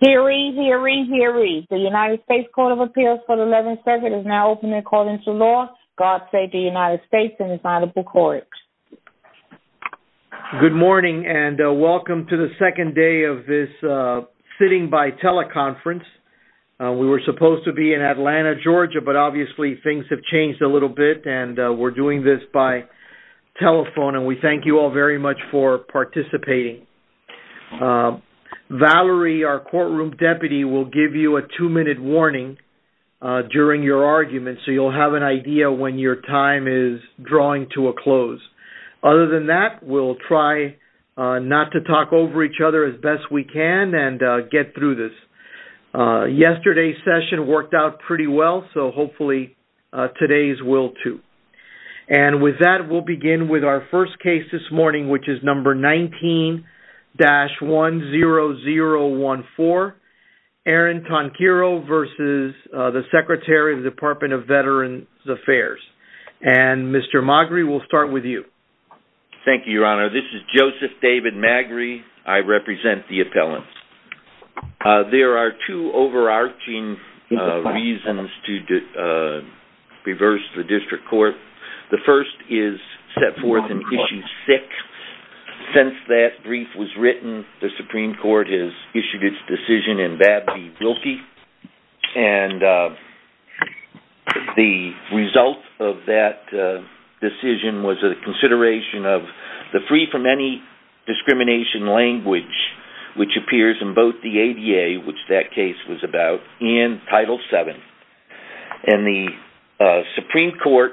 Hear ye, hear ye, hear ye. The United States Court of Appeals for the 11th Circuit is now open according to law. God save the United States and its honorable court. Good morning and welcome to the second day of this sitting by teleconference. We were supposed to be in Atlanta, Georgia, but obviously things have changed a little bit and we're doing this by participating. Valerie, our courtroom deputy, will give you a two-minute warning during your argument so you'll have an idea when your time is drawing to a close. Other than that, we'll try not to talk over each other as best we can and get through this. Yesterday's session worked out pretty well, so hopefully today's will too. And with that, we'll begin with our first hearing, which is on page 19-10014. Aaron Tonkyro v. Secretary, Department of Veterans Affairs. Mr. Magri, we'll start with you. Thank you, Your Honor. This is Joseph David Magri. I represent the appellants. There are two overarching reasons to reverse the district court. The first is set forth in Issue 6. Since that brief was written, the Supreme Court has issued its decision in Babby-Bilkey. And the result of that decision was a consideration of the free from any discrimination language, which appears in both the ADA, which that case was about, and Title VII. And the Supreme Court,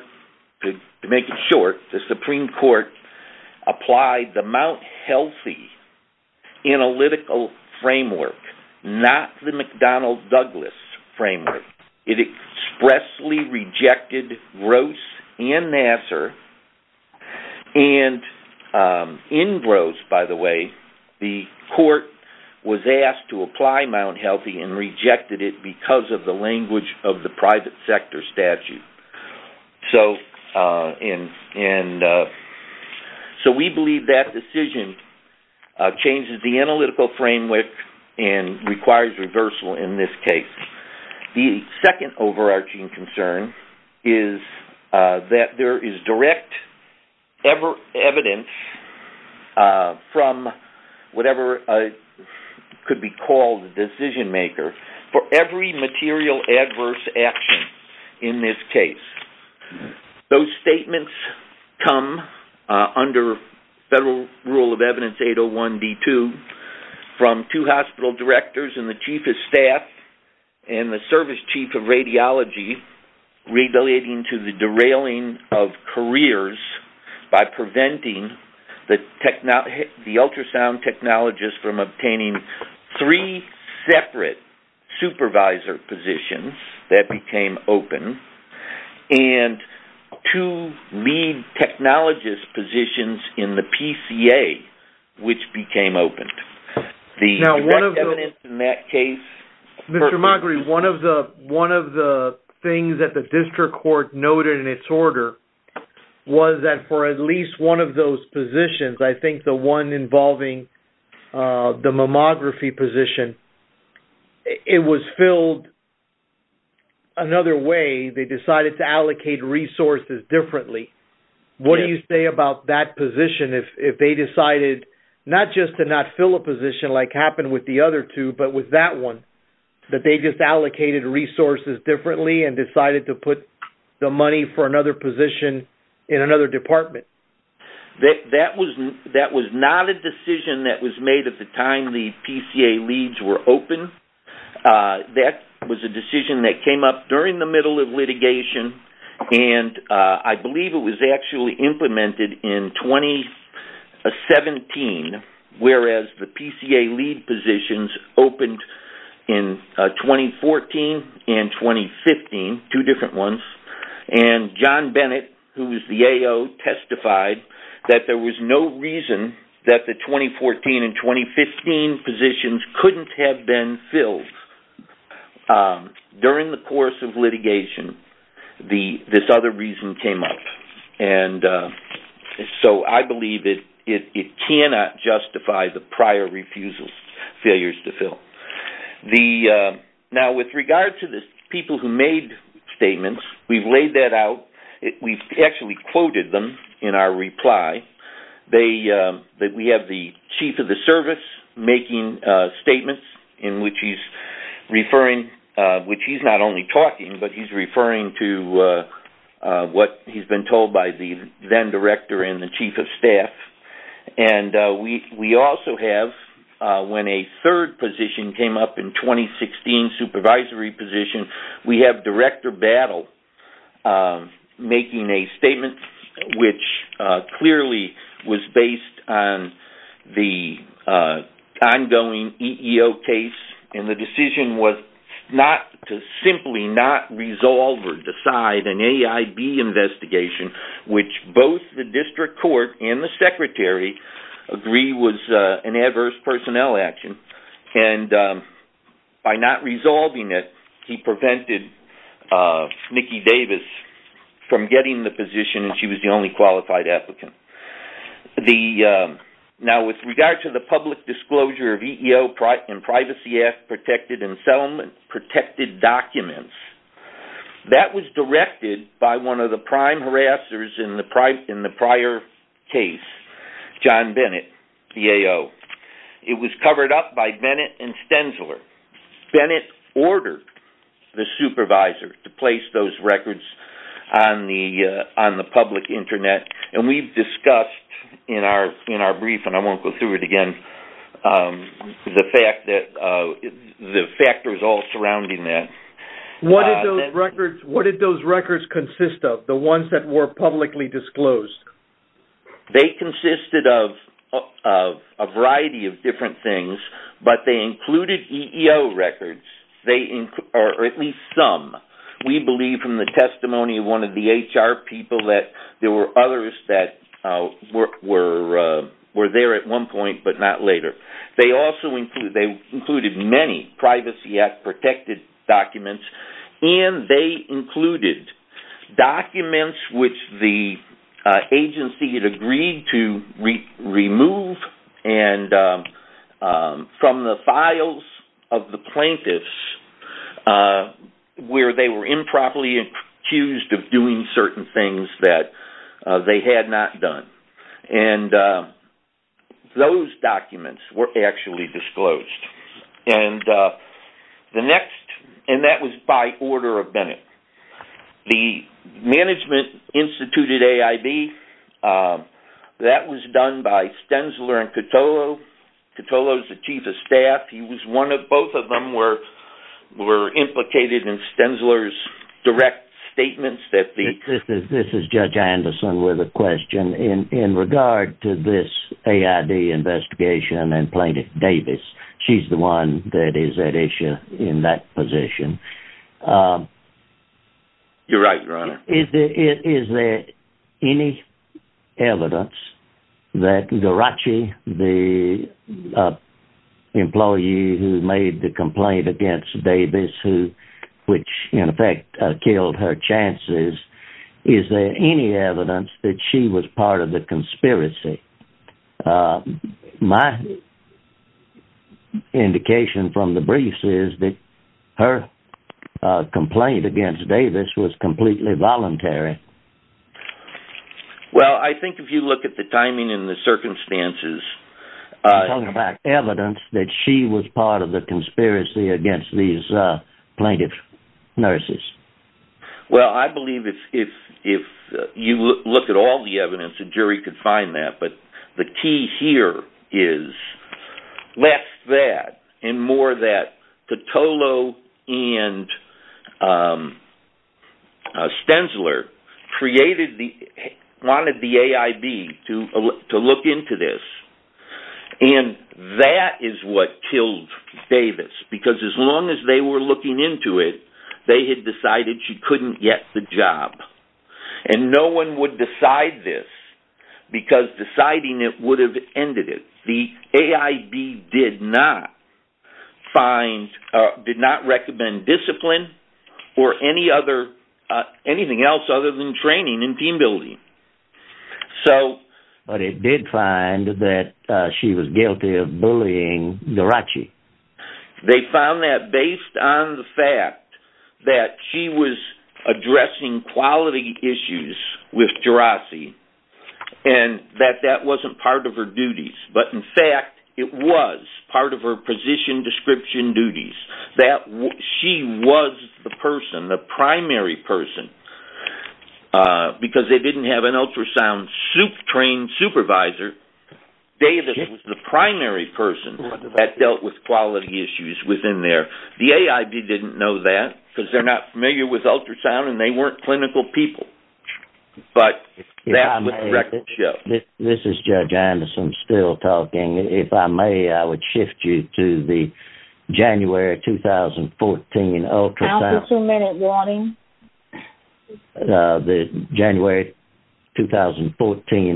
to make it short, the Supreme Court applied the Mount Healthy analytical framework, not the McDonnell-Douglas framework. It expressly rejected Gross and Nassar. And in Gross, by the way, the court was asked to apply Mount Healthy and rejected it because of the language of the private sector statute. So we believe that decision changes the analytical framework and requires reversal in this case. The second overarching concern is that there is direct evidence from whatever could be called the decision maker for every material adverse action in this case. Those statements come under federal rule of evidence 801D2 from two hospital directors and the chief of staff and the service chief of radiology relating to the derailing of careers by preventing the ultrasound technologist from obtaining three separate supervisor positions that became open and two lead technologist positions in the PCA, which became open. The direct evidence in that case... Mr. Moghery, one of the things that the district court noted in its order was that for at least one of those positions, I think the one involving the mammography position, it was filled another way. They decided to allocate resources differently. What do you say about that position if they decided not just to not fill a position like happened with the other two, but with that one, that they just allocated resources differently and decided to put the money for another position in another department? That was not a decision that was made at the time the PCA leads were open. That was a decision that was actually implemented in 2017, whereas the PCA lead positions opened in 2014 and 2015, two different ones. John Bennett, who was the AO, testified that there was no reason that the 2014 and 2015 positions couldn't have been filled during the course of litigation. This other reason came up. I believe it cannot justify the prior refusal, failures to fill. With regard to the people who made statements, we've laid that out. We've actually quoted them in our reply. We have the chief of the service making statements in which he's referring, which he's not only talking, but he's referring to what he's been told by the then director and the chief of staff. We also have, when a third position came up in 2016, supervisory position, we have Director Battle making a statement which clearly was based on the ongoing EEO case. The decision was not to simply not resolve or decide an AIB investigation, which both the district court and the secretary agree was an adverse personnel action. By not resolving it, he prevented Nikki Davis from getting the position and she was the only qualified applicant. Now, with regard to the public disclosure of EEO and Privacy Act protected and settlement protected documents, that was directed by one of the prime harassers in the prior case, John Bennett, the AO. It was covered up by Bennett and Stenzler. Bennett ordered the in our brief, and I won't go through it again, the factors all surrounding that. What did those records consist of, the ones that were publicly disclosed? They consisted of a variety of different things, but they included EEO records, or at least some. We believe from the testimony of one of the HR people that there were others that were there at one point, but not later. They also included many Privacy Act protected documents, and they included documents which the agency had agreed to remove from the files of the plaintiffs where they were improperly accused of doing certain things that they had not done. Those documents were actually disclosed. That was by order of Bennett. The management instituted AIB. That was done by Stenzler and Cotolo. Cotolo is the chief of staff. Both of them were implicated in Stenzler's direct statements. This is Judge Anderson with a question in regard to this AID investigation and Plaintiff Davis. She's the one that is at issue in that position. You're right, Your Honor. Is there any evidence that Geraci, the employee who made the complaint against Davis, which in effect killed her chances, is there any evidence that she was part of the conspiracy? My indication from the briefs is that her complaint against Davis was completely voluntary. Well, I think if you look at the timing and the circumstances... I'm talking about evidence that she was part of the conspiracy against these plaintiff nurses. Well, I believe if you look at all the evidence, a jury could find that, but the key here is less that and more that Cotolo and Stenzler wanted the AIB to look into this. That is what killed Davis because as long as they were looking into it, they had decided she couldn't get the job. No one would decide this because deciding it would have did not recommend discipline or anything else other than training and team building. But it did find that she was guilty of bullying Geraci. They found that based on the fact that she was addressing quality issues with Geraci and that that wasn't part of her duties. But in fact, it was part of her position description duties that she was the person, the primary person, because they didn't have an ultrasound trained supervisor. Davis was the primary person that dealt with quality issues within there. The AIB didn't know that because they're not familiar with ultrasound and they weren't clinical people. But that's what the record shows. This is Judge Anderson still talking. If I may, I would shift you to the January 2014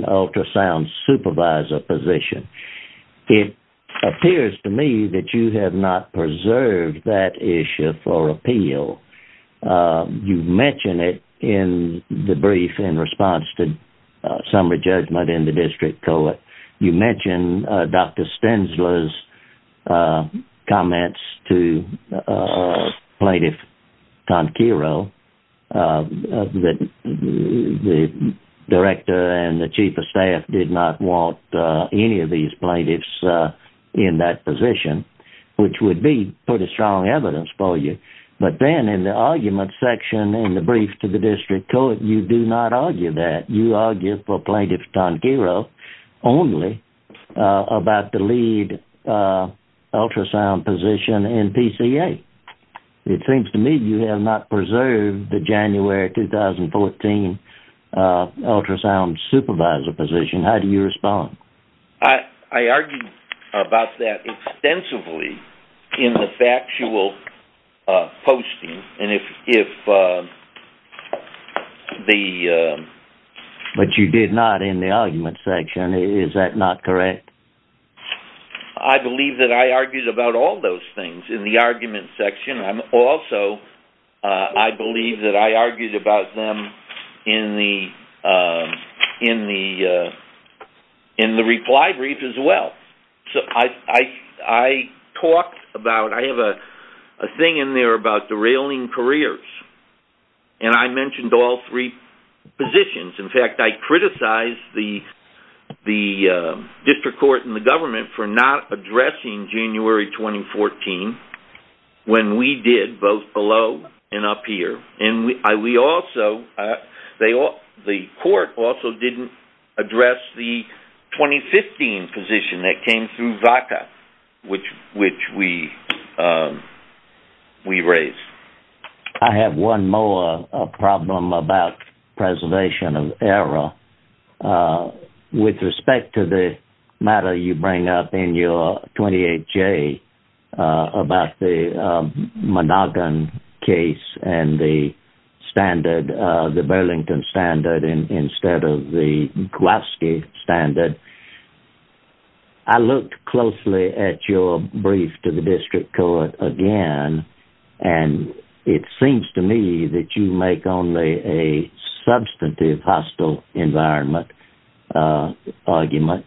ultrasound supervisor position. It appears to me that you have not preserved that issue for appeal. You mentioned it in the brief in response to summary judgment in the district court. You mentioned Dr. Stensler's comments to plaintiff Conquero that the director and the chief of staff did not want any of these plaintiffs in that position, which would be pretty strong evidence but then in the argument section in the brief to the district court, you do not argue that. You argue for plaintiff Conquero only about the lead ultrasound position in PCA. It seems to me you have not preserved the January 2014 ultrasound supervisor position. How do you respond? I argued about that extensively in the factual posting. But you did not in the argument section. Is that not correct? I believe that I argued about all those things in the argument section. Also, I believe that I argued about them in the reply brief as well. I have a thing in there about derailing careers. I mentioned all three positions. In fact, I criticized the district court and the peer. The court also did not address the 2015 position that came through VACA, which we raised. I have one more problem about preservation of error. With respect to the matter you bring up in your 28J about the Monoghan case and the standard, the Burlington standard instead of the Kowalski standard, I looked closely at your brief to the district court again and it seems to me that you make only a substantive hostile environment argument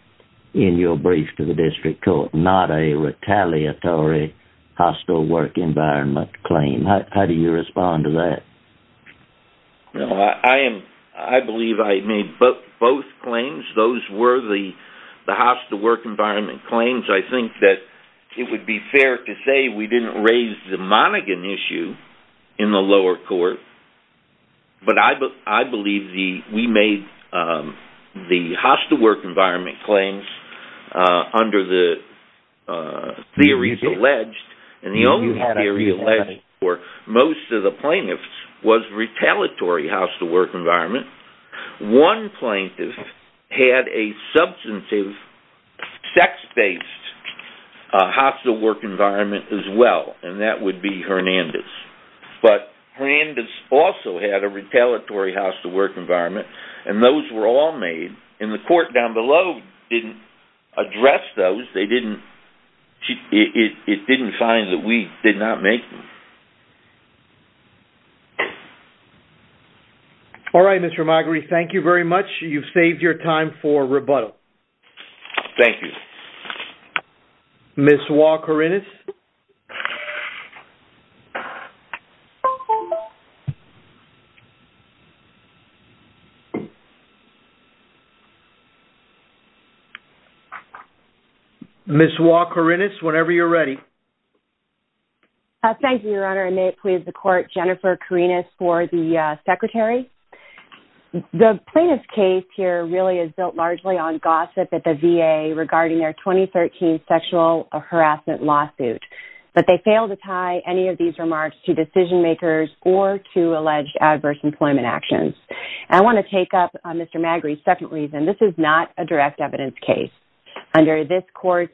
in your brief to the district court, not a retaliatory hostile work environment claim. How do you respond to that? I believe I made both claims. Those were the hostile work environment claims. I think that it would be fair to say we did not raise the Monoghan issue in the lower court, but I believe we made the hostile work environment claims under the theories alleged. Most of the plaintiffs were retaliatory hostile work environment. One plaintiff had a substantive sex-based hostile work environment as well, and that would be Hernandez. But Hernandez also had a retaliatory hostile work environment, and those were all made, and the court down below didn't address those. It didn't find that we did not make them. All right, Mr. Moghery, thank you very much. You've saved your time for rebuttal. Thank you. Ms. Wah-Korinis? Ms. Wah-Korinis, whenever you're ready. Thank you, Your Honor, and may it please the court, Jennifer Korinis for the secretary. The plaintiff's case here really is built largely on gossip at the VA regarding their 2013 sexual harassment lawsuit, but they failed to tie any of these remarks to decision-makers or to alleged adverse employment actions. I want to take up Mr. Moghery's second reason. This is not a direct evidence case. Under this court's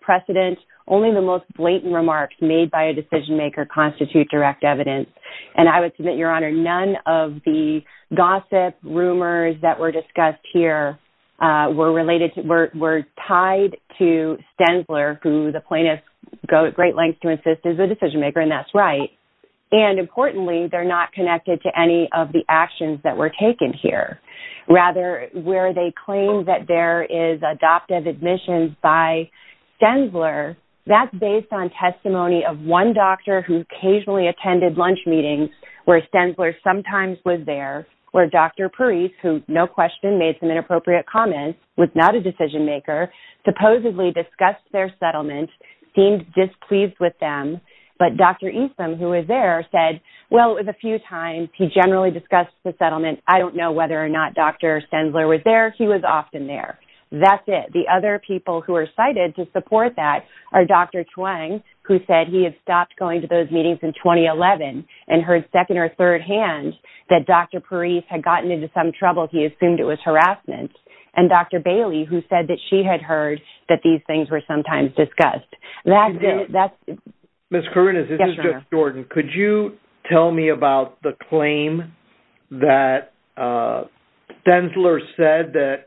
precedent, only the most blatant remarks made by a decision-maker constitute direct evidence, and I would submit, Your Honor, none of the gossip rumors that were discussed here were tied to Stensler, who the plaintiffs go at great lengths to insist is a decision-maker, and that's right, and importantly, they're not connected to any of the actions that were taken here. Rather, where they claim that there is adoptive admissions by Stensler, that's on testimony of one doctor who occasionally attended lunch meetings where Stensler sometimes was there, where Dr. Parise, who no question made some inappropriate comments, was not a decision-maker, supposedly discussed their settlement, seemed displeased with them, but Dr. Easton, who was there, said, well, it was a few times. He generally discussed the settlement. I don't know whether or not Dr. Stensler was there. He was often there. That's it. The other people who are cited to who said he had stopped going to those meetings in 2011 and heard second or third hand that Dr. Parise had gotten into some trouble, he assumed it was harassment, and Dr. Bailey, who said that she had heard that these things were sometimes discussed. That's it. Ms. Kourounes, this is Judge Jordan. Could you tell me about the claim that Stensler said that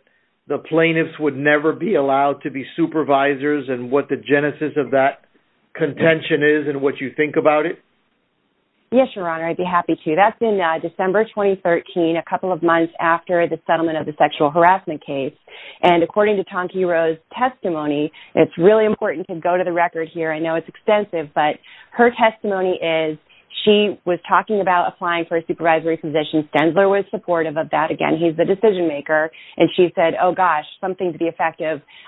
the plaintiffs would never be allowed to be supervisors and what the genesis of that contention is and what you think about it? Yes, Your Honor, I'd be happy to. That's in December 2013, a couple of months after the settlement of the sexual harassment case. According to Tanki Rowe's testimony, it's really important to go to the record here. I know it's extensive, but her testimony is she was talking about applying for a supervisory position. Stensler was supportive of that. Again, he's the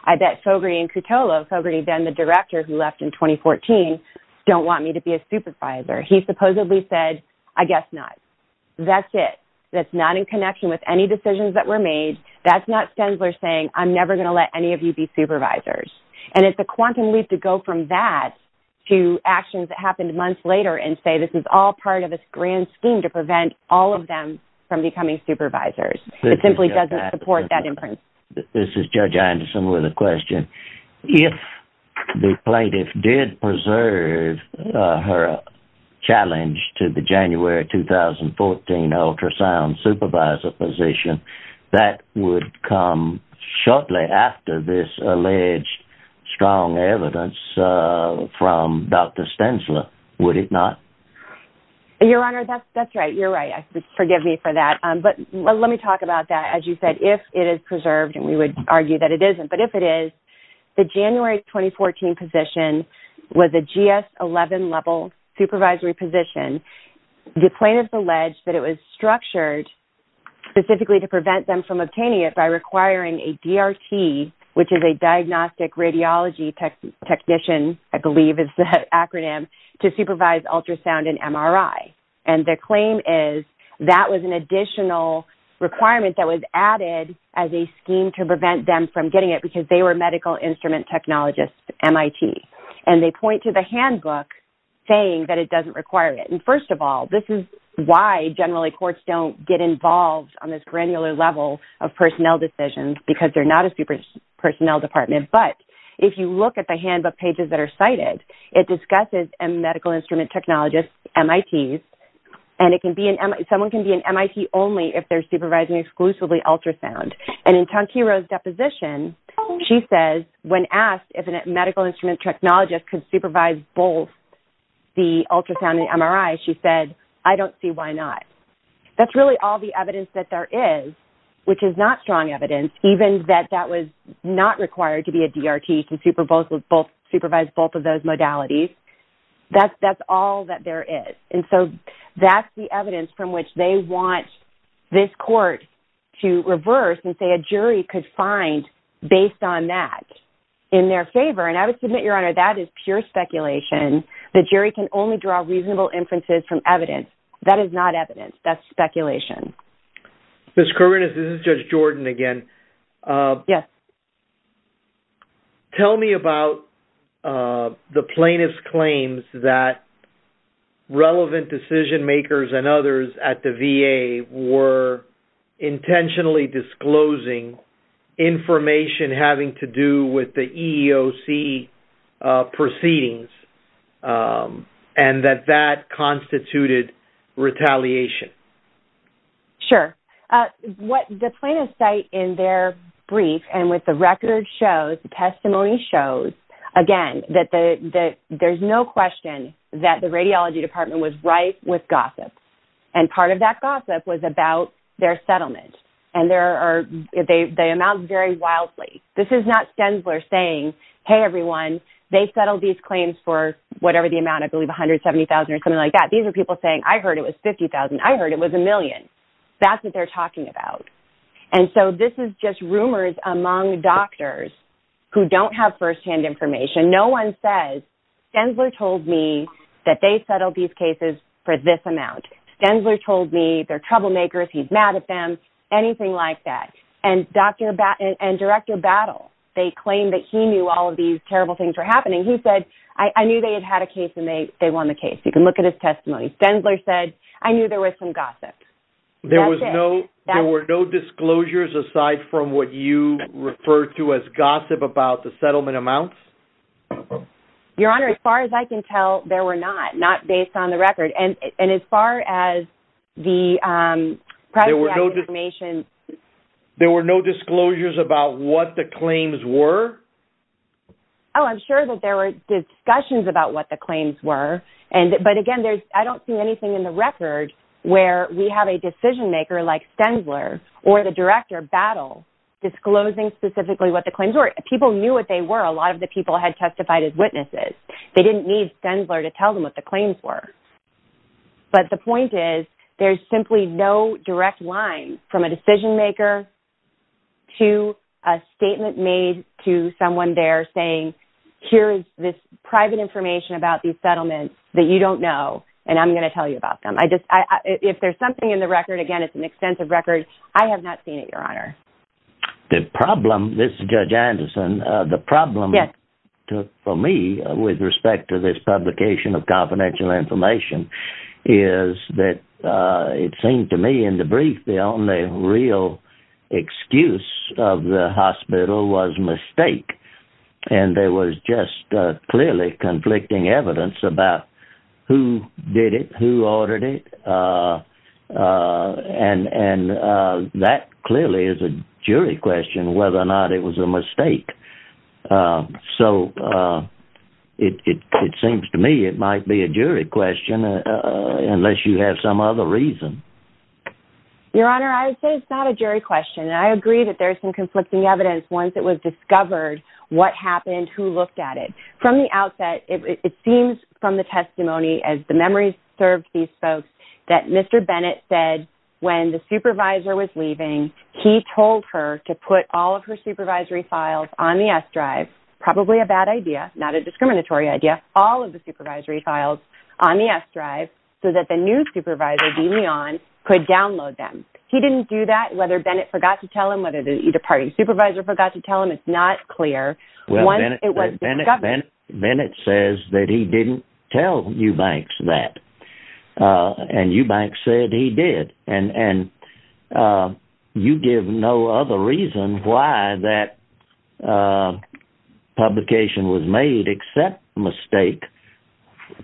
I bet Fogarty and Cutolo, Fogarty then the director who left in 2014, don't want me to be a supervisor. He supposedly said, I guess not. That's it. That's not in connection with any decisions that were made. That's not Stensler saying, I'm never going to let any of you be supervisors. And it's a quantum leap to go from that to actions that happened months later and say this is all part of this grand scheme to prevent all of them from becoming supervisors. It simply doesn't support that imprint. This is Judge Anderson with a question. If the plaintiff did preserve her challenge to the January 2014 ultrasound supervisor position, that would come shortly after this alleged strong evidence from Dr. Stensler. Would it not? And Your Honor, that's right. You're right. Forgive me for that. But let me talk about that. As you said, if it is preserved and we would argue that it isn't, but if it is the January 2014 position was a GS 11 level supervisory position. The plaintiff alleged that it was structured specifically to prevent them from obtaining it by requiring a DRT, which is a diagnostic radiology technician, I believe is the acronym, to supervise ultrasound and MRI. And the claim is that was an additional requirement that was added as a scheme to prevent them from getting it because they were medical instrument technologists at MIT. And they point to the handbook saying that it doesn't require it. And first of all, this is why generally courts don't get involved on this granular level of personnel decisions because they're not a personnel department. But if you look at the handbook pages that are cited, it discusses medical instrument technologists, MITs, and someone can be an MIT only if they're supervising exclusively ultrasound. And in Tanquira's deposition, she says when asked if a medical instrument technologist could supervise both the ultrasound and MRI, she said, I don't see why not. That's really all the evidence that there is, which is not strong evidence, even that that was not required to be a DRT to supervise both of those modalities. That's all that there is. And so that's the evidence from which they want this court to reverse and say a jury could find based on that in their favor. And I would submit, Your Honor, that is pure speculation. The jury can only draw reasonable inferences from evidence. That is not evidence. That's speculation. This is Judge Jordan again. Yes. Tell me about the plaintiff's claims that relevant decision makers and others at the VA were intentionally disclosing information having to do with the EEOC proceedings and that that constituted retaliation. Sure. The plaintiff's site in their brief and with the record shows, the testimony shows, again, that there's no question that the radiology department was ripe with gossip. And part of that gossip was about their settlement. And they amount very wildly. This is not Stensler saying, hey, everyone, they settled these claims for whatever the amount, I believe, $170,000 or something like that. These are people saying, I heard it was $50,000. I heard it was a million. That's what they're talking about. And so this is just rumors among doctors who don't have firsthand information. No one says, Stensler told me that they settled these cases for this amount. Stensler told me they're troublemakers. He's mad at them, anything like that. And Director Battle, they claimed that he knew all of these terrible things were happening. He said, I knew they had had a case and they won the case. You can look at his testimony. Stensler said, I knew there was some gossip. There were no disclosures aside from what you refer to as gossip about the settlement amounts? Your Honor, as far as I can tell, there were not, not based on the record. And as far as the privacy information. There were no disclosures about what the claims were? Oh, I'm sure that there were discussions about what the claims were. But again, I don't see anything in the record where we have a decision maker like Stensler or the Director Battle disclosing specifically what the claims were. People knew what they were. A lot of the had testified as witnesses. They didn't need Stensler to tell them what the claims were. But the point is, there's simply no direct line from a decision maker to a statement made to someone there saying, here's this private information about these settlements that you don't know. And I'm going to tell you about them. I just, if there's something in the record, again, it's an extensive record. I have not seen it, Your Honor. The problem, this is Judge Anderson, the problem for me with respect to this publication of confidential information is that it seemed to me in the brief, the only real excuse of the hospital was mistake. And there was just clearly conflicting evidence about who did it, who ordered it. And that clearly is a jury question whether or not it was a mistake. So it seems to me it might be a jury question unless you have some other reason. Your Honor, I would say it's not a jury question. And I agree that there's some conflicting evidence once it was discovered what happened, who looked at it. From the outset, it seems from the testimony, as the memory serves these folks, that Mr. Bennett said, when the supervisor was leaving, he told her to put all of her supervisory files on the S drive, probably a bad idea, not a discriminatory idea, all of the supervisory files on the S drive, so that the new supervisor could download them. He didn't do that. Whether Bennett forgot to tell him, it's not clear. Bennett says that he didn't tell Eubanks that. And Eubanks said he did. And you give no other reason why that publication was made except mistake.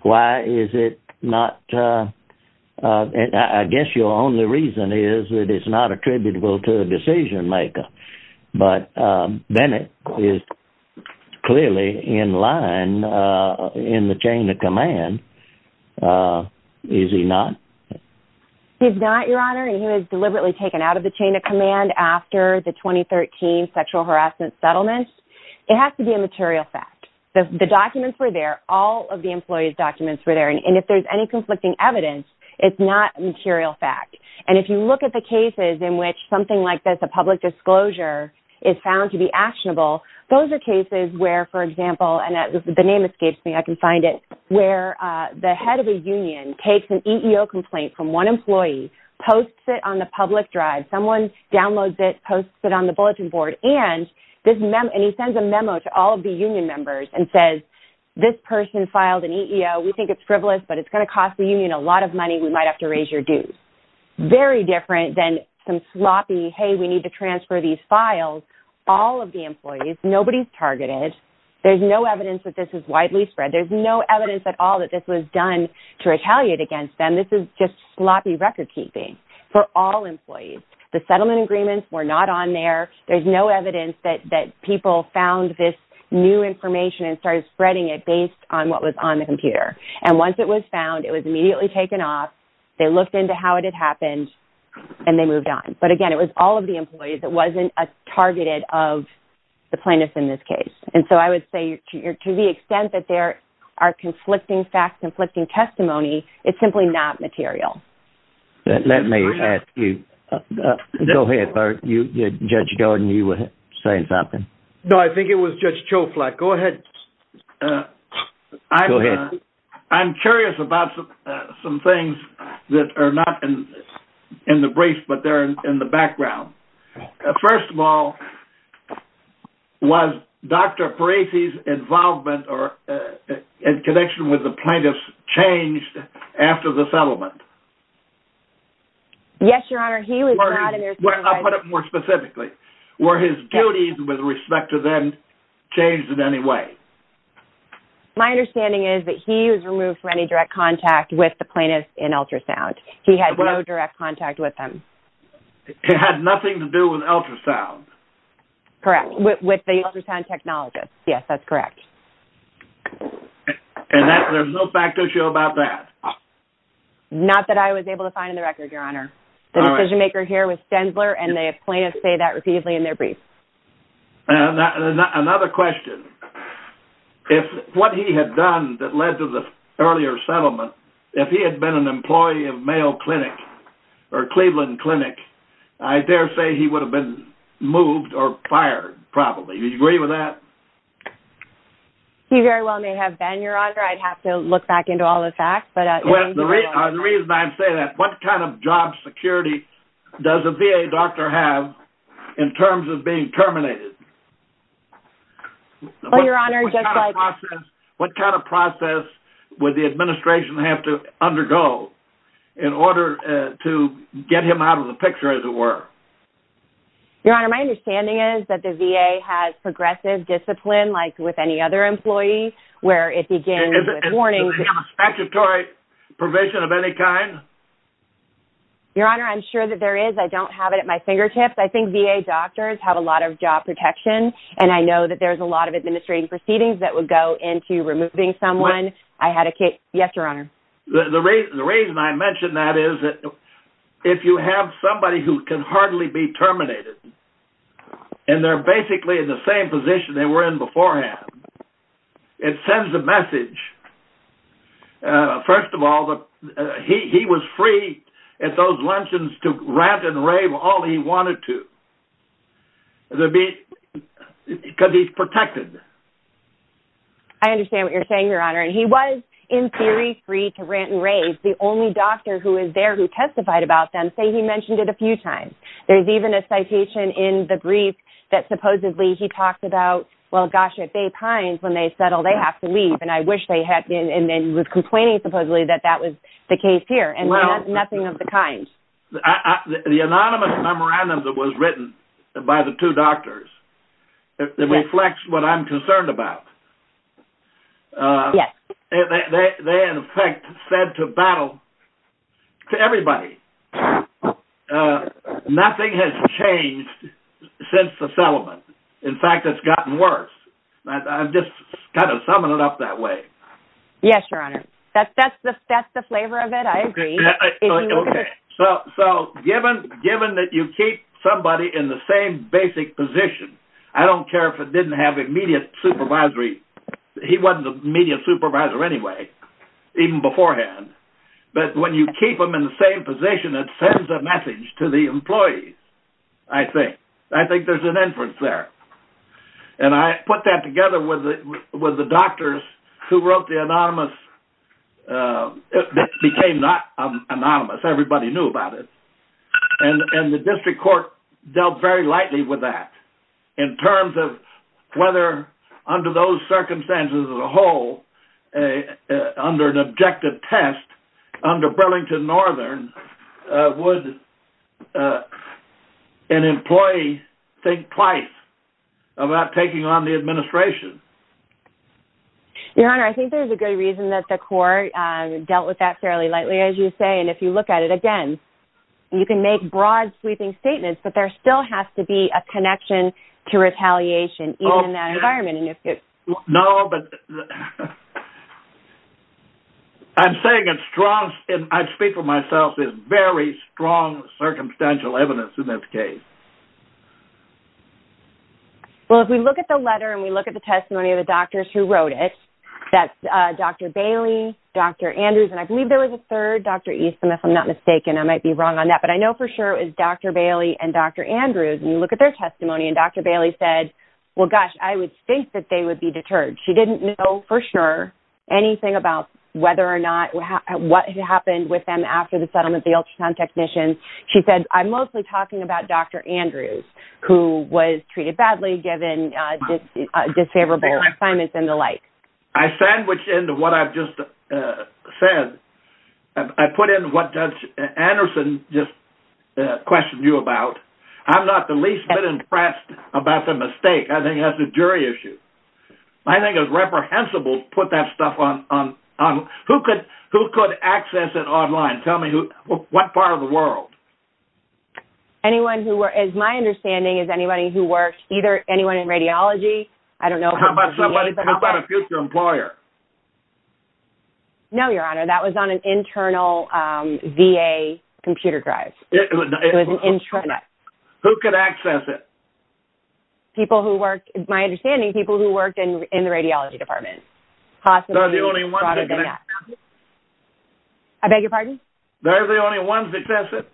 Why is it not? I guess your only reason is that it's not attributable to a decision maker. But Bennett is clearly in line in the chain of command. Is he not? He's not, Your Honor. And he was deliberately taken out of the chain of command after the 2013 sexual harassment settlement. It has to be a material fact. The documents were there, all of the employee's documents were there. And if there's any conflicting evidence, it's not a material fact. And if you look at the cases in which something like this, public disclosure, is found to be actionable, those are cases where, for example, and the name escapes me, I can find it, where the head of a union takes an EEO complaint from one employee, posts it on the public drive, someone downloads it, posts it on the bulletin board, and he sends a memo to all of the union members and says, this person filed an EEO. We think it's frivolous, but it's going to cost the union a lot of money. We might have to raise your dues. Very different than some sloppy, hey, we need to transfer these files. All of the employees, nobody's targeted. There's no evidence that this is widely spread. There's no evidence at all that this was done to retaliate against them. This is just sloppy record keeping for all employees. The settlement agreements were not on there. There's no evidence that people found this new information and started spreading it based on what was on the computer. And once it was found, it was immediately taken off. They looked into how it had happened and they moved on. But again, it was all of the employees that wasn't targeted of the plaintiff in this case. And so I would say to the extent that there are conflicting facts, conflicting testimony, it's simply not material. Let me ask you, go ahead, Judge Jordan, you were saying something. No, I think it was just Joe Flack. Go ahead. I'm curious about some things that are not in the brief, but they're in the background. First of all, was Dr. Parisi's involvement or in connection with the plaintiffs changed after the settlement? Yes, Your Honor, he was not in there. I'll put it more specifically. Were his duties with respect to them changed in any way? My understanding is that he was removed from any direct contact with the plaintiffs in ultrasound. He had no direct contact with them. It had nothing to do with ultrasound. Correct. With the ultrasound technologist. Yes, that's correct. And there's no fact to show about that? Not that I was able to find in the record, Your Honor. The decision maker here was and the plaintiffs say that repeatedly in their brief. Another question. If what he had done that led to the earlier settlement, if he had been an employee of Mayo Clinic or Cleveland Clinic, I dare say he would have been moved or fired, probably. Do you agree with that? He very well may have been, Your Honor. I'd have to look back into all the facts. The reason I say that, what kind of job security does a VA doctor have in terms of being terminated? Well, Your Honor, just like... What kind of process would the administration have to undergo in order to get him out of the picture, as it were? Your Honor, my understanding is that the VA has progressive discipline, like with any other employee, where it begins with a warning... Does he have a statutory provision of any kind? Your Honor, I'm sure that there is. I don't have it at my fingertips. I think VA doctors have a lot of job protection, and I know that there's a lot of administrative proceedings that would go into removing someone. I had a case... Yes, Your Honor. The reason I mention that is that if you have somebody who can hardly be terminated, and they're basically in the same position they were in beforehand, it sends a message. First of all, he was free at those luncheons to rant and rave all he wanted to, because he's protected. I understand what you're saying, Your Honor. And he was, in theory, free to rant and rave. The only doctor who is there who testified about them, say he mentioned it a few times. There's even a citation in the brief that supposedly he talks about, well, gosh, at Bay Pines, when they settle, they have to leave. And he was complaining, supposedly, that that was the case here. And nothing of the kind. The anonymous memorandum that was written by the two doctors reflects what I'm concerned about. They, in effect, said to battle, to everybody, nothing has changed since the settlement. In other words, I'm just kind of summing it up that way. Yes, Your Honor. That's the flavor of it. I agree. Okay. So given that you keep somebody in the same basic position, I don't care if it didn't have immediate supervisory, he wasn't an immediate supervisor anyway, even beforehand. But when you keep them in the same position, it sends a message to the employees, I think. I think there's an inference there. And I put that together with the doctors who wrote the anonymous. It became not anonymous. Everybody knew about it. And the district court dealt very lightly with that in terms of whether under those circumstances as a whole, under an objective test, under an objective test, whether or not there was a connection to retaliation. Your Honor, I think there's a good reason that the court dealt with that fairly lightly, as you say. And if you look at it again, you can make broad sweeping statements, but there still has to be a connection to retaliation in that environment. No, but I'm saying it's strong. And I speak for myself is very strong circumstantial evidence in that case. Well, if we look at the letter and we look at the testimony of the doctors who wrote it, that's Dr. Bailey, Dr. Andrews, and I believe there was a third Dr. Easton, if I'm not mistaken, I might be wrong on that. But I know for sure it was Dr. Bailey and Dr. Andrews. And you look at their testimony and Dr. Bailey said, well, gosh, I would think that they would be deterred. She didn't know for sure anything about whether or not what happened with them after the settlement, the ultrasound technician. She said, I'm mostly talking about Dr. Andrews, who was treated badly given disfavorable assignments and the like. I sandwiched into what I've just said. I put in what Judge Anderson just questioned you about. I'm not the least bit impressed about the mistake. I think that's a jury issue. I think it was reprehensible to put that stuff on who could access it online. Tell me who, what part of the world? Anyone who were, as my understanding, is anybody who works either anyone in radiology? I don't know. How about a future employer? No, your honor, that was on an internal VA computer drive. It was an intranet. Who could access it? People who work, my understanding, people who worked in I beg your pardon? They're the only ones that access it.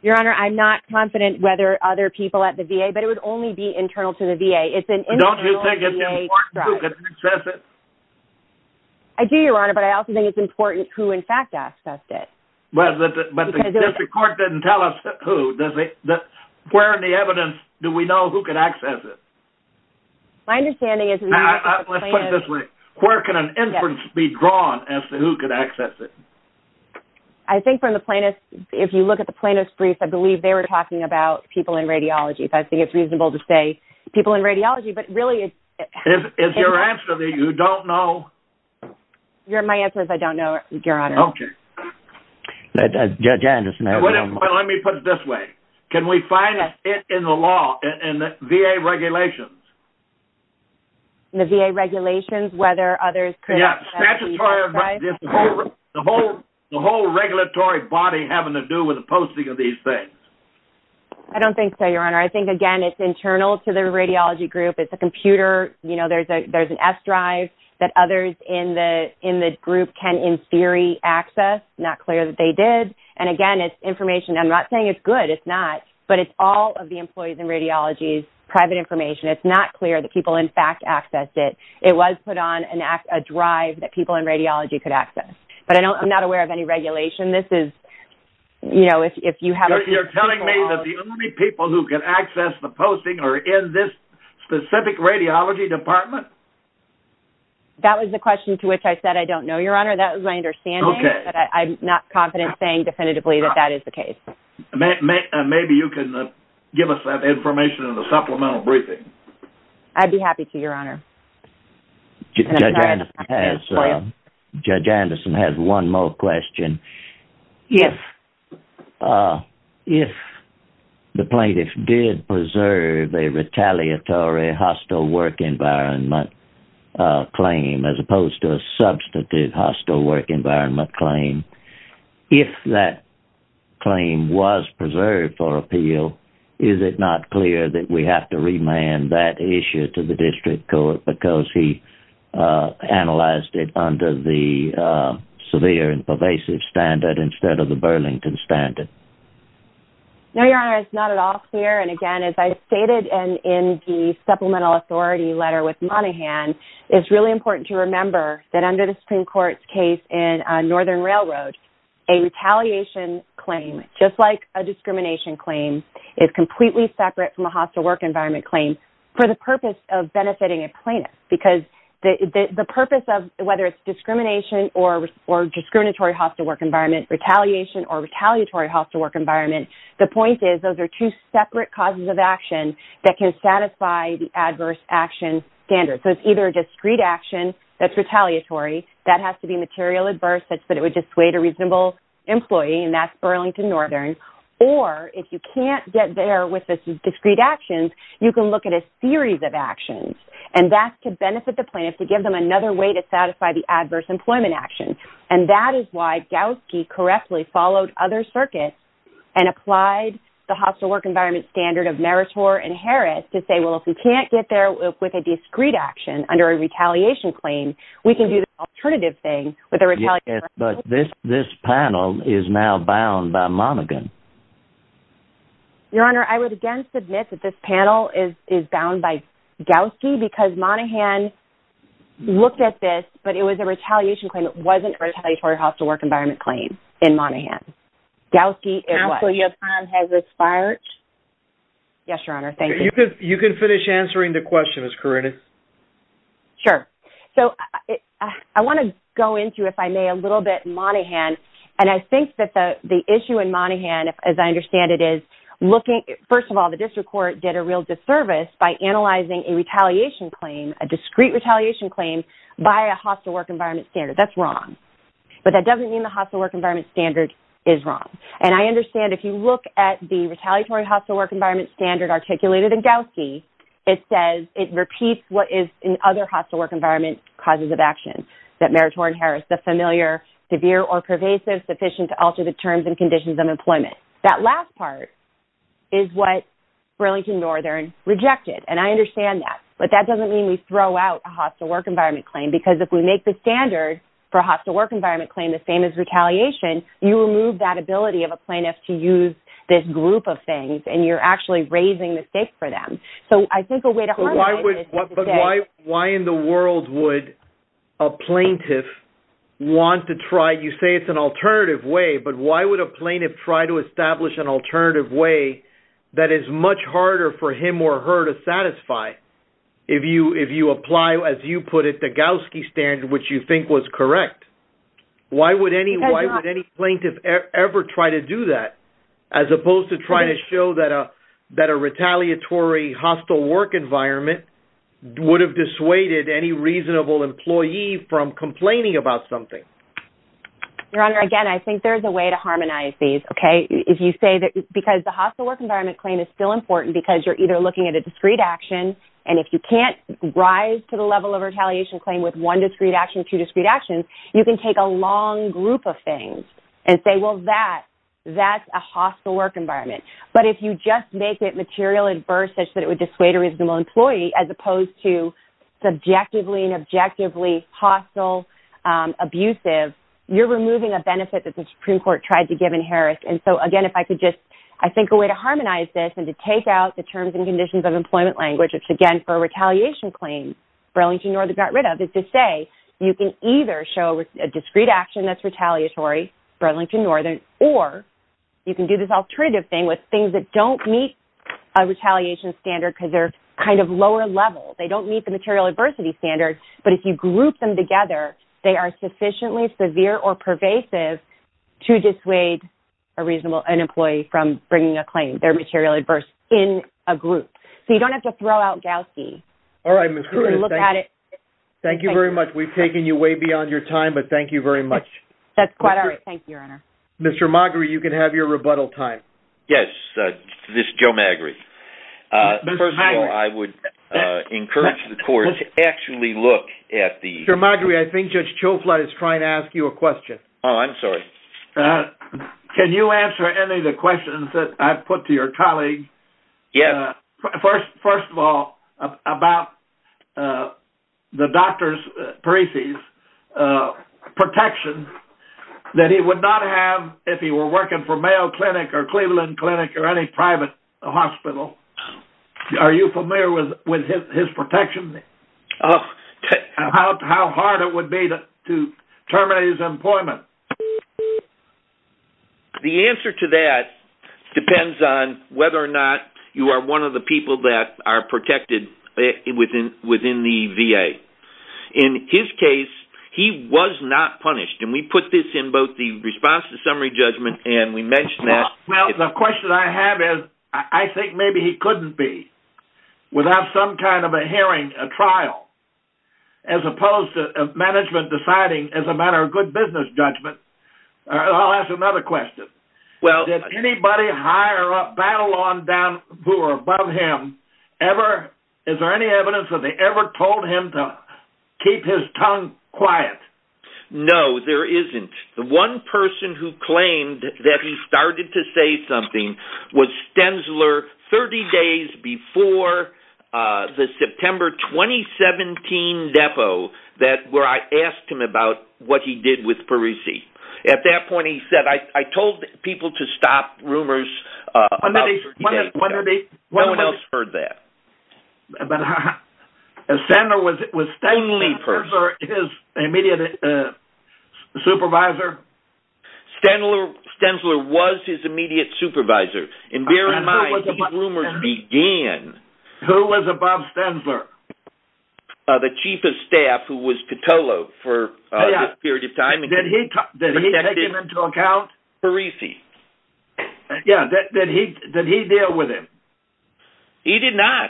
Your honor, I'm not confident whether other people at the VA, but it would only be internal to the VA. It's an internal VA drive. Don't you think it's important who could access it? I do, your honor, but I also think it's important who, in fact, accessed it. Well, but the court didn't tell us who, does it? Where in the evidence do we know who could access it? My understanding is... Let's put it this way. Where can an inference be drawn as to who could access it? I think from the plaintiff, if you look at the plaintiff's brief, I believe they were talking about people in radiology. I think it's reasonable to say people in radiology, but really... Is your answer that you don't know? My answer is I don't know, your honor. Okay. Judge Anderson has... Let me put it this way. Can we find it in the law, in the VA regulations? In the VA regulations, whether others could... Yeah. The whole regulatory body having to do with the posting of these things. I don't think so, your honor. I think, again, it's internal to the radiology group. It's a computer. There's an S drive that others in the group can, in theory, access. Not clear that they did. And again, it's information. I'm not saying it's good, it's not, but it's all of the employees in radiology's private information. It's not clear that people, in fact, accessed it. It was put on a drive that people in radiology could access, but I'm not aware of any regulation. This is... You're telling me that the only people who can access the posting are in this specific radiology department? That was the question to which I said, I don't know, your honor. That was my understanding, but I'm not confident saying definitively that that is the case. Maybe you can give us that information in a supplemental briefing. I'd be happy to, your honor. Judge Anderson has one more question. Yes. If the plaintiff did preserve a retaliatory hostile work environment claim, as opposed to substantive hostile work environment claim, if that claim was preserved for appeal, is it not clear that we have to remand that issue to the district court because he analyzed it under the severe and pervasive standard instead of the Burlington standard? No, your honor, it's not at all clear. And again, as I stated in the supplemental authority letter with Monaghan, it's really important to remember that under the Supreme Court's case in Northern Railroad, a retaliation claim, just like a discrimination claim, is completely separate from a hostile work environment claim for the purpose of benefiting a plaintiff. Because the purpose of whether it's discrimination or discriminatory hostile work environment, retaliation or retaliatory hostile work environment, the point is those are two standards. So it's either a discrete action that's retaliatory, that has to be material adverse, but it would dissuade a reasonable employee, and that's Burlington Northern. Or if you can't get there with this discrete actions, you can look at a series of actions. And that's to benefit the plaintiff to give them another way to satisfy the adverse employment action. And that is why Gowski correctly followed other circuits and applied the hostile work environment standard and Harris to say, well, if we can't get there with a discrete action under a retaliation claim, we can do the alternative thing with a retaliation. But this this panel is now bound by Monaghan. Your honor, I would again submit that this panel is is bound by Gowski because Monaghan looked at this, but it was a retaliation claim. It wasn't a retaliatory hostile work environment claim in Monaghan. Gowski is what? Counsel, your time has expired. Yes, your honor. Thank you. You can finish answering the question, Ms. Karina. Sure. So I want to go into, if I may, a little bit Monaghan. And I think that the issue in Monaghan, as I understand it, is looking, first of all, the district court did a real disservice by analyzing a retaliation claim, a discrete retaliation claim by a hostile work environment standard. That's wrong. But that doesn't mean the hostile work environment standard is wrong. And I understand if you look at the retaliatory hostile work environment standard articulated in Gowski, it says it repeats what is in other hostile work environment causes of action that Meritorious Harris, the familiar severe or pervasive sufficient to alter the terms and conditions of employment. That last part is what Burlington Northern rejected. And I understand that. But that doesn't mean we throw out a hostile work environment claim, because if we make the standard for a hostile work environment claim, the same as retaliation, you remove that ability of a plaintiff to use this group of things. And you're actually raising the stakes for them. So I think a way to harmonize this is to say... But why in the world would a plaintiff want to try, you say it's an alternative way, but why would a plaintiff try to establish an alternative way that is much harder for him or her to satisfy? If you apply, as you put it, the Gowski standard, which you think was correct, why would any plaintiff ever try to do that, as opposed to trying to show that a retaliatory hostile work environment would have dissuaded any reasonable employee from complaining about something? Your Honor, again, I think there's a way to harmonize these, okay? If you say that because the hostile work environment claim is still important because you're either looking at a discrete action, and if you can't rise to the level of two discrete actions, you can take a long group of things and say, well, that's a hostile work environment. But if you just make it material adverse such that it would dissuade a reasonable employee, as opposed to subjectively and objectively hostile, abusive, you're removing a benefit that the Supreme Court tried to give in Harris. And so, again, if I could just... I think a way to harmonize this and to take out the terms and conditions of employment language, again, for a retaliation claim Burlington Northern got rid of, is to say you can either show a discrete action that's retaliatory, Burlington Northern, or you can do this alternative thing with things that don't meet a retaliation standard because they're kind of lower level. They don't meet the material adversity standard, but if you group them together, they are sufficiently severe or pervasive to dissuade a reasonable employee from bringing a claim. They're material adverse in a group. So you don't have to throw out Gowsey. All right, Ms. Cruz. Thank you very much. We've taken you way beyond your time, but thank you very much. That's quite all right. Thank you, Your Honor. Mr. Magri, you can have your rebuttal time. Yes, this is Joe Magri. First of all, I would encourage the court to actually look at the... Mr. Magri, I think Judge Choflat is trying to ask you a question. Oh, I'm sorry. Can you answer any of the questions that I've put to your colleague? Yes. First of all, about the doctor's, Parisi's, protection that he would not have if he were working for Mayo Clinic or Cleveland Clinic or any private hospital. Are you familiar with his protection? Oh. How hard it would be to terminate his employment? The answer to that depends on whether or not you are one of the people that are protected within the VA. In his case, he was not punished. And we put this in both the response to summary judgment and we mentioned that. Well, the question I have is, I think maybe he couldn't be without some kind of a hearing, a trial, as opposed to management deciding as a matter of good business judgment. I'll ask another question. Did anybody higher up, battle on down who are above him ever, is there any evidence that they ever told him to keep his tongue quiet? No, there isn't. The one person who claimed that he started to say something was Stensler 30 days before the September 2017 depo where I asked him about what he did with Parisi. At that point, he said, I told people to stop rumors about Stensler. No one else heard that. Stensler was Stensler's immediate supervisor? Stensler was his immediate supervisor. And bear in mind, these rumors began. Who was above Stensler? The chief of staff who was Petolo for a period of time. Did he deal with him? He did not.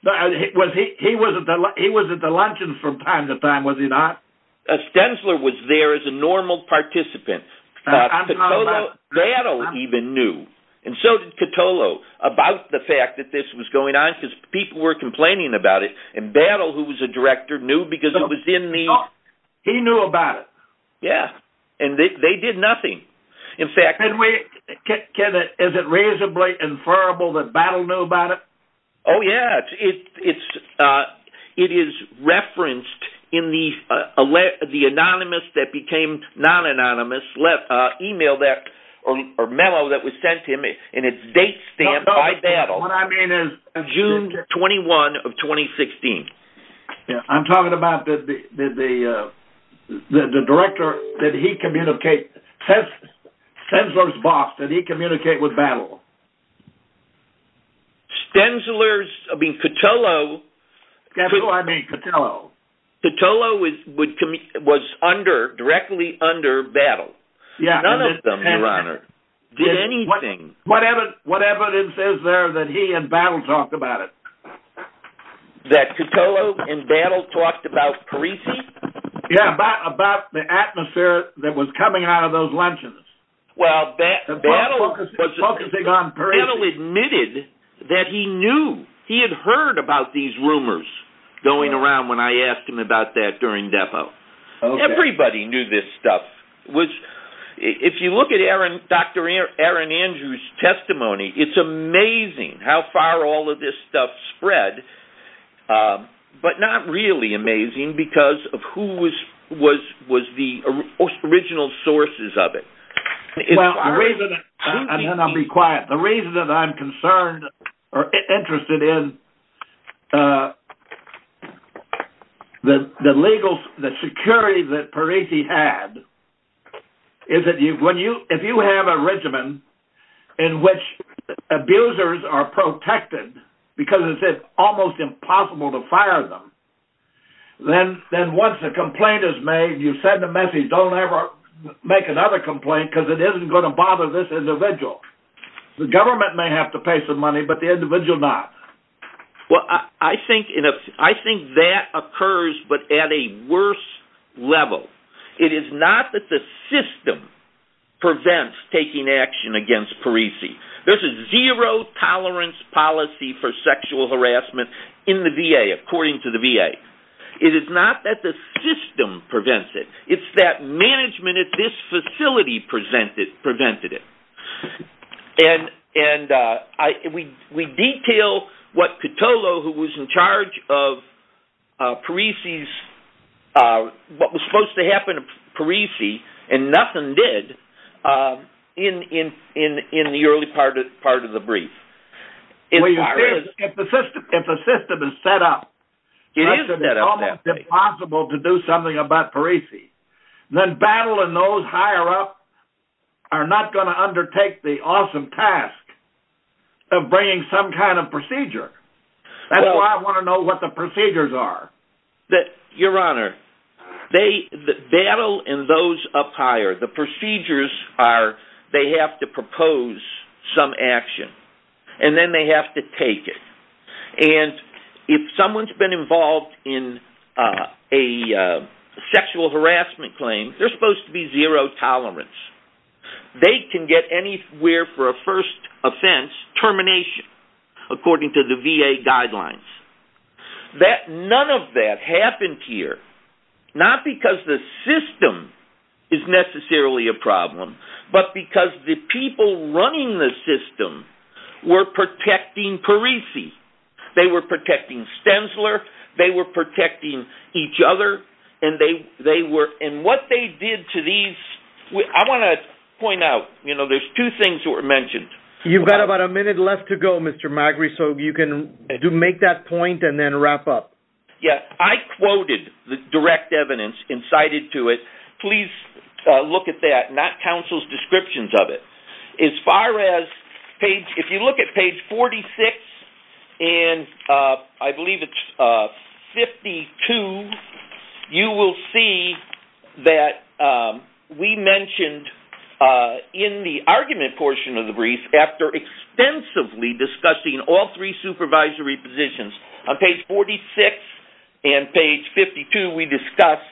He was at the luncheon from time to time, was he not? Stensler was there as a normal participant. Petolo, Battle even knew. And so did Petolo about the fact that this was going on because people were complaining about it. And Battle, who was a director, knew because it was in the... He knew about it? Yeah. And they did nothing. In fact... Is it reasonably inferable that Battle knew about it? Oh, yeah. It is referenced in the anonymous that became non-anonymous email or memo that was sent to him in a date stamp by Battle. What I mean is... June 21 of 2016. I'm talking about the director, did he communicate... Stensler's boss, did he communicate with Battle? Stensler's... I mean, Petolo... Petolo, I mean, Petolo. Petolo was directly under Battle. None of them did anything. What evidence is there that he and Battle talked about it? That Petolo and Battle talked about Parisi? Yeah, about the atmosphere that was coming out of those luncheons. Well, Battle was focusing on Parisi. Battle admitted that he knew. He had heard about these rumors going around when I asked him about that during depo. Everybody knew this stuff. If you look at Dr. Aaron Andrews' testimony, it's amazing how far all of this stuff spread, but not really amazing because of who was the original sources of it. And then I'll be quiet. The reason that I'm concerned or interested in the legal... the security that Parisi had is that if you have a regiment in which abusers are protected because it's almost impossible to fire them, then once a complaint is made, you send a message, don't ever make another complaint because it isn't going to bother this individual. The government may have to pay some money, but the individual not. Well, I think that occurs, but at a worse level. It is not that the system prevents taking action against Parisi. There's a zero tolerance policy for sexual harassment in the VA, according to the VA. It is not that the system prevents it. It's that management at this facility prevented it. And we detail what Petolo, who was in charge of Parisi's... what was supposed to happen to Parisi and nothing did in the early part of the brief. If the system is set up, it is almost impossible to do something about Parisi. Then Battle and those higher up are not going to undertake the awesome task of bringing some kind of procedure. That's why I want to know what the procedures are. Your Honor, Battle and those up higher, the procedures are they have to propose some action and then they have to take it. And if someone's been involved in a sexual harassment claim, they're supposed to be zero tolerance. They can get anywhere for a first offense termination, according to the VA guidelines. None of that happened here, not because the system is necessarily a problem, but because the people running the system were protecting Parisi. They were protecting Stensler. They were protecting each other. And what they did to these... I want to point out, there's two things that were mentioned. You've got about a minute left to go, Mr. Magri, so you can make that point and then wrap up. Yeah, I quoted the direct evidence and cited to it. Please look at that, not counsel's descriptions of it. If you look at page 46 and I believe it's 52, you will see that we mentioned in the argument portion of the brief, after extensively discussing all three supervisory positions, on page 46 and page 52, we discuss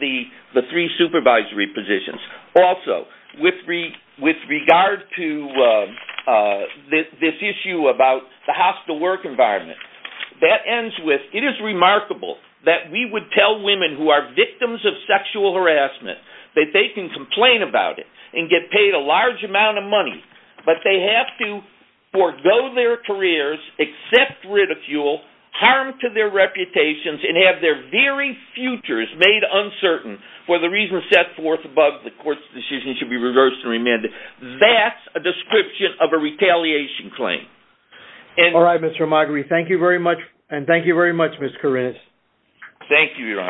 the three supervisory positions. Also, with regard to this issue about the hostile work environment, that ends with, it is remarkable that we would tell women who are victims of sexual harassment that they can complain about it and get paid a large amount of money, but they have to forego their careers, accept ridicule, harm to their reputations, and have their very futures made uncertain for the reason set forth above the court's decision should be reversed and remanded. That's a description of a retaliation claim. All right, Mr. Magri, thank you very much, and thank you very much, Ms. Kourinas. Thank you, Your Honor.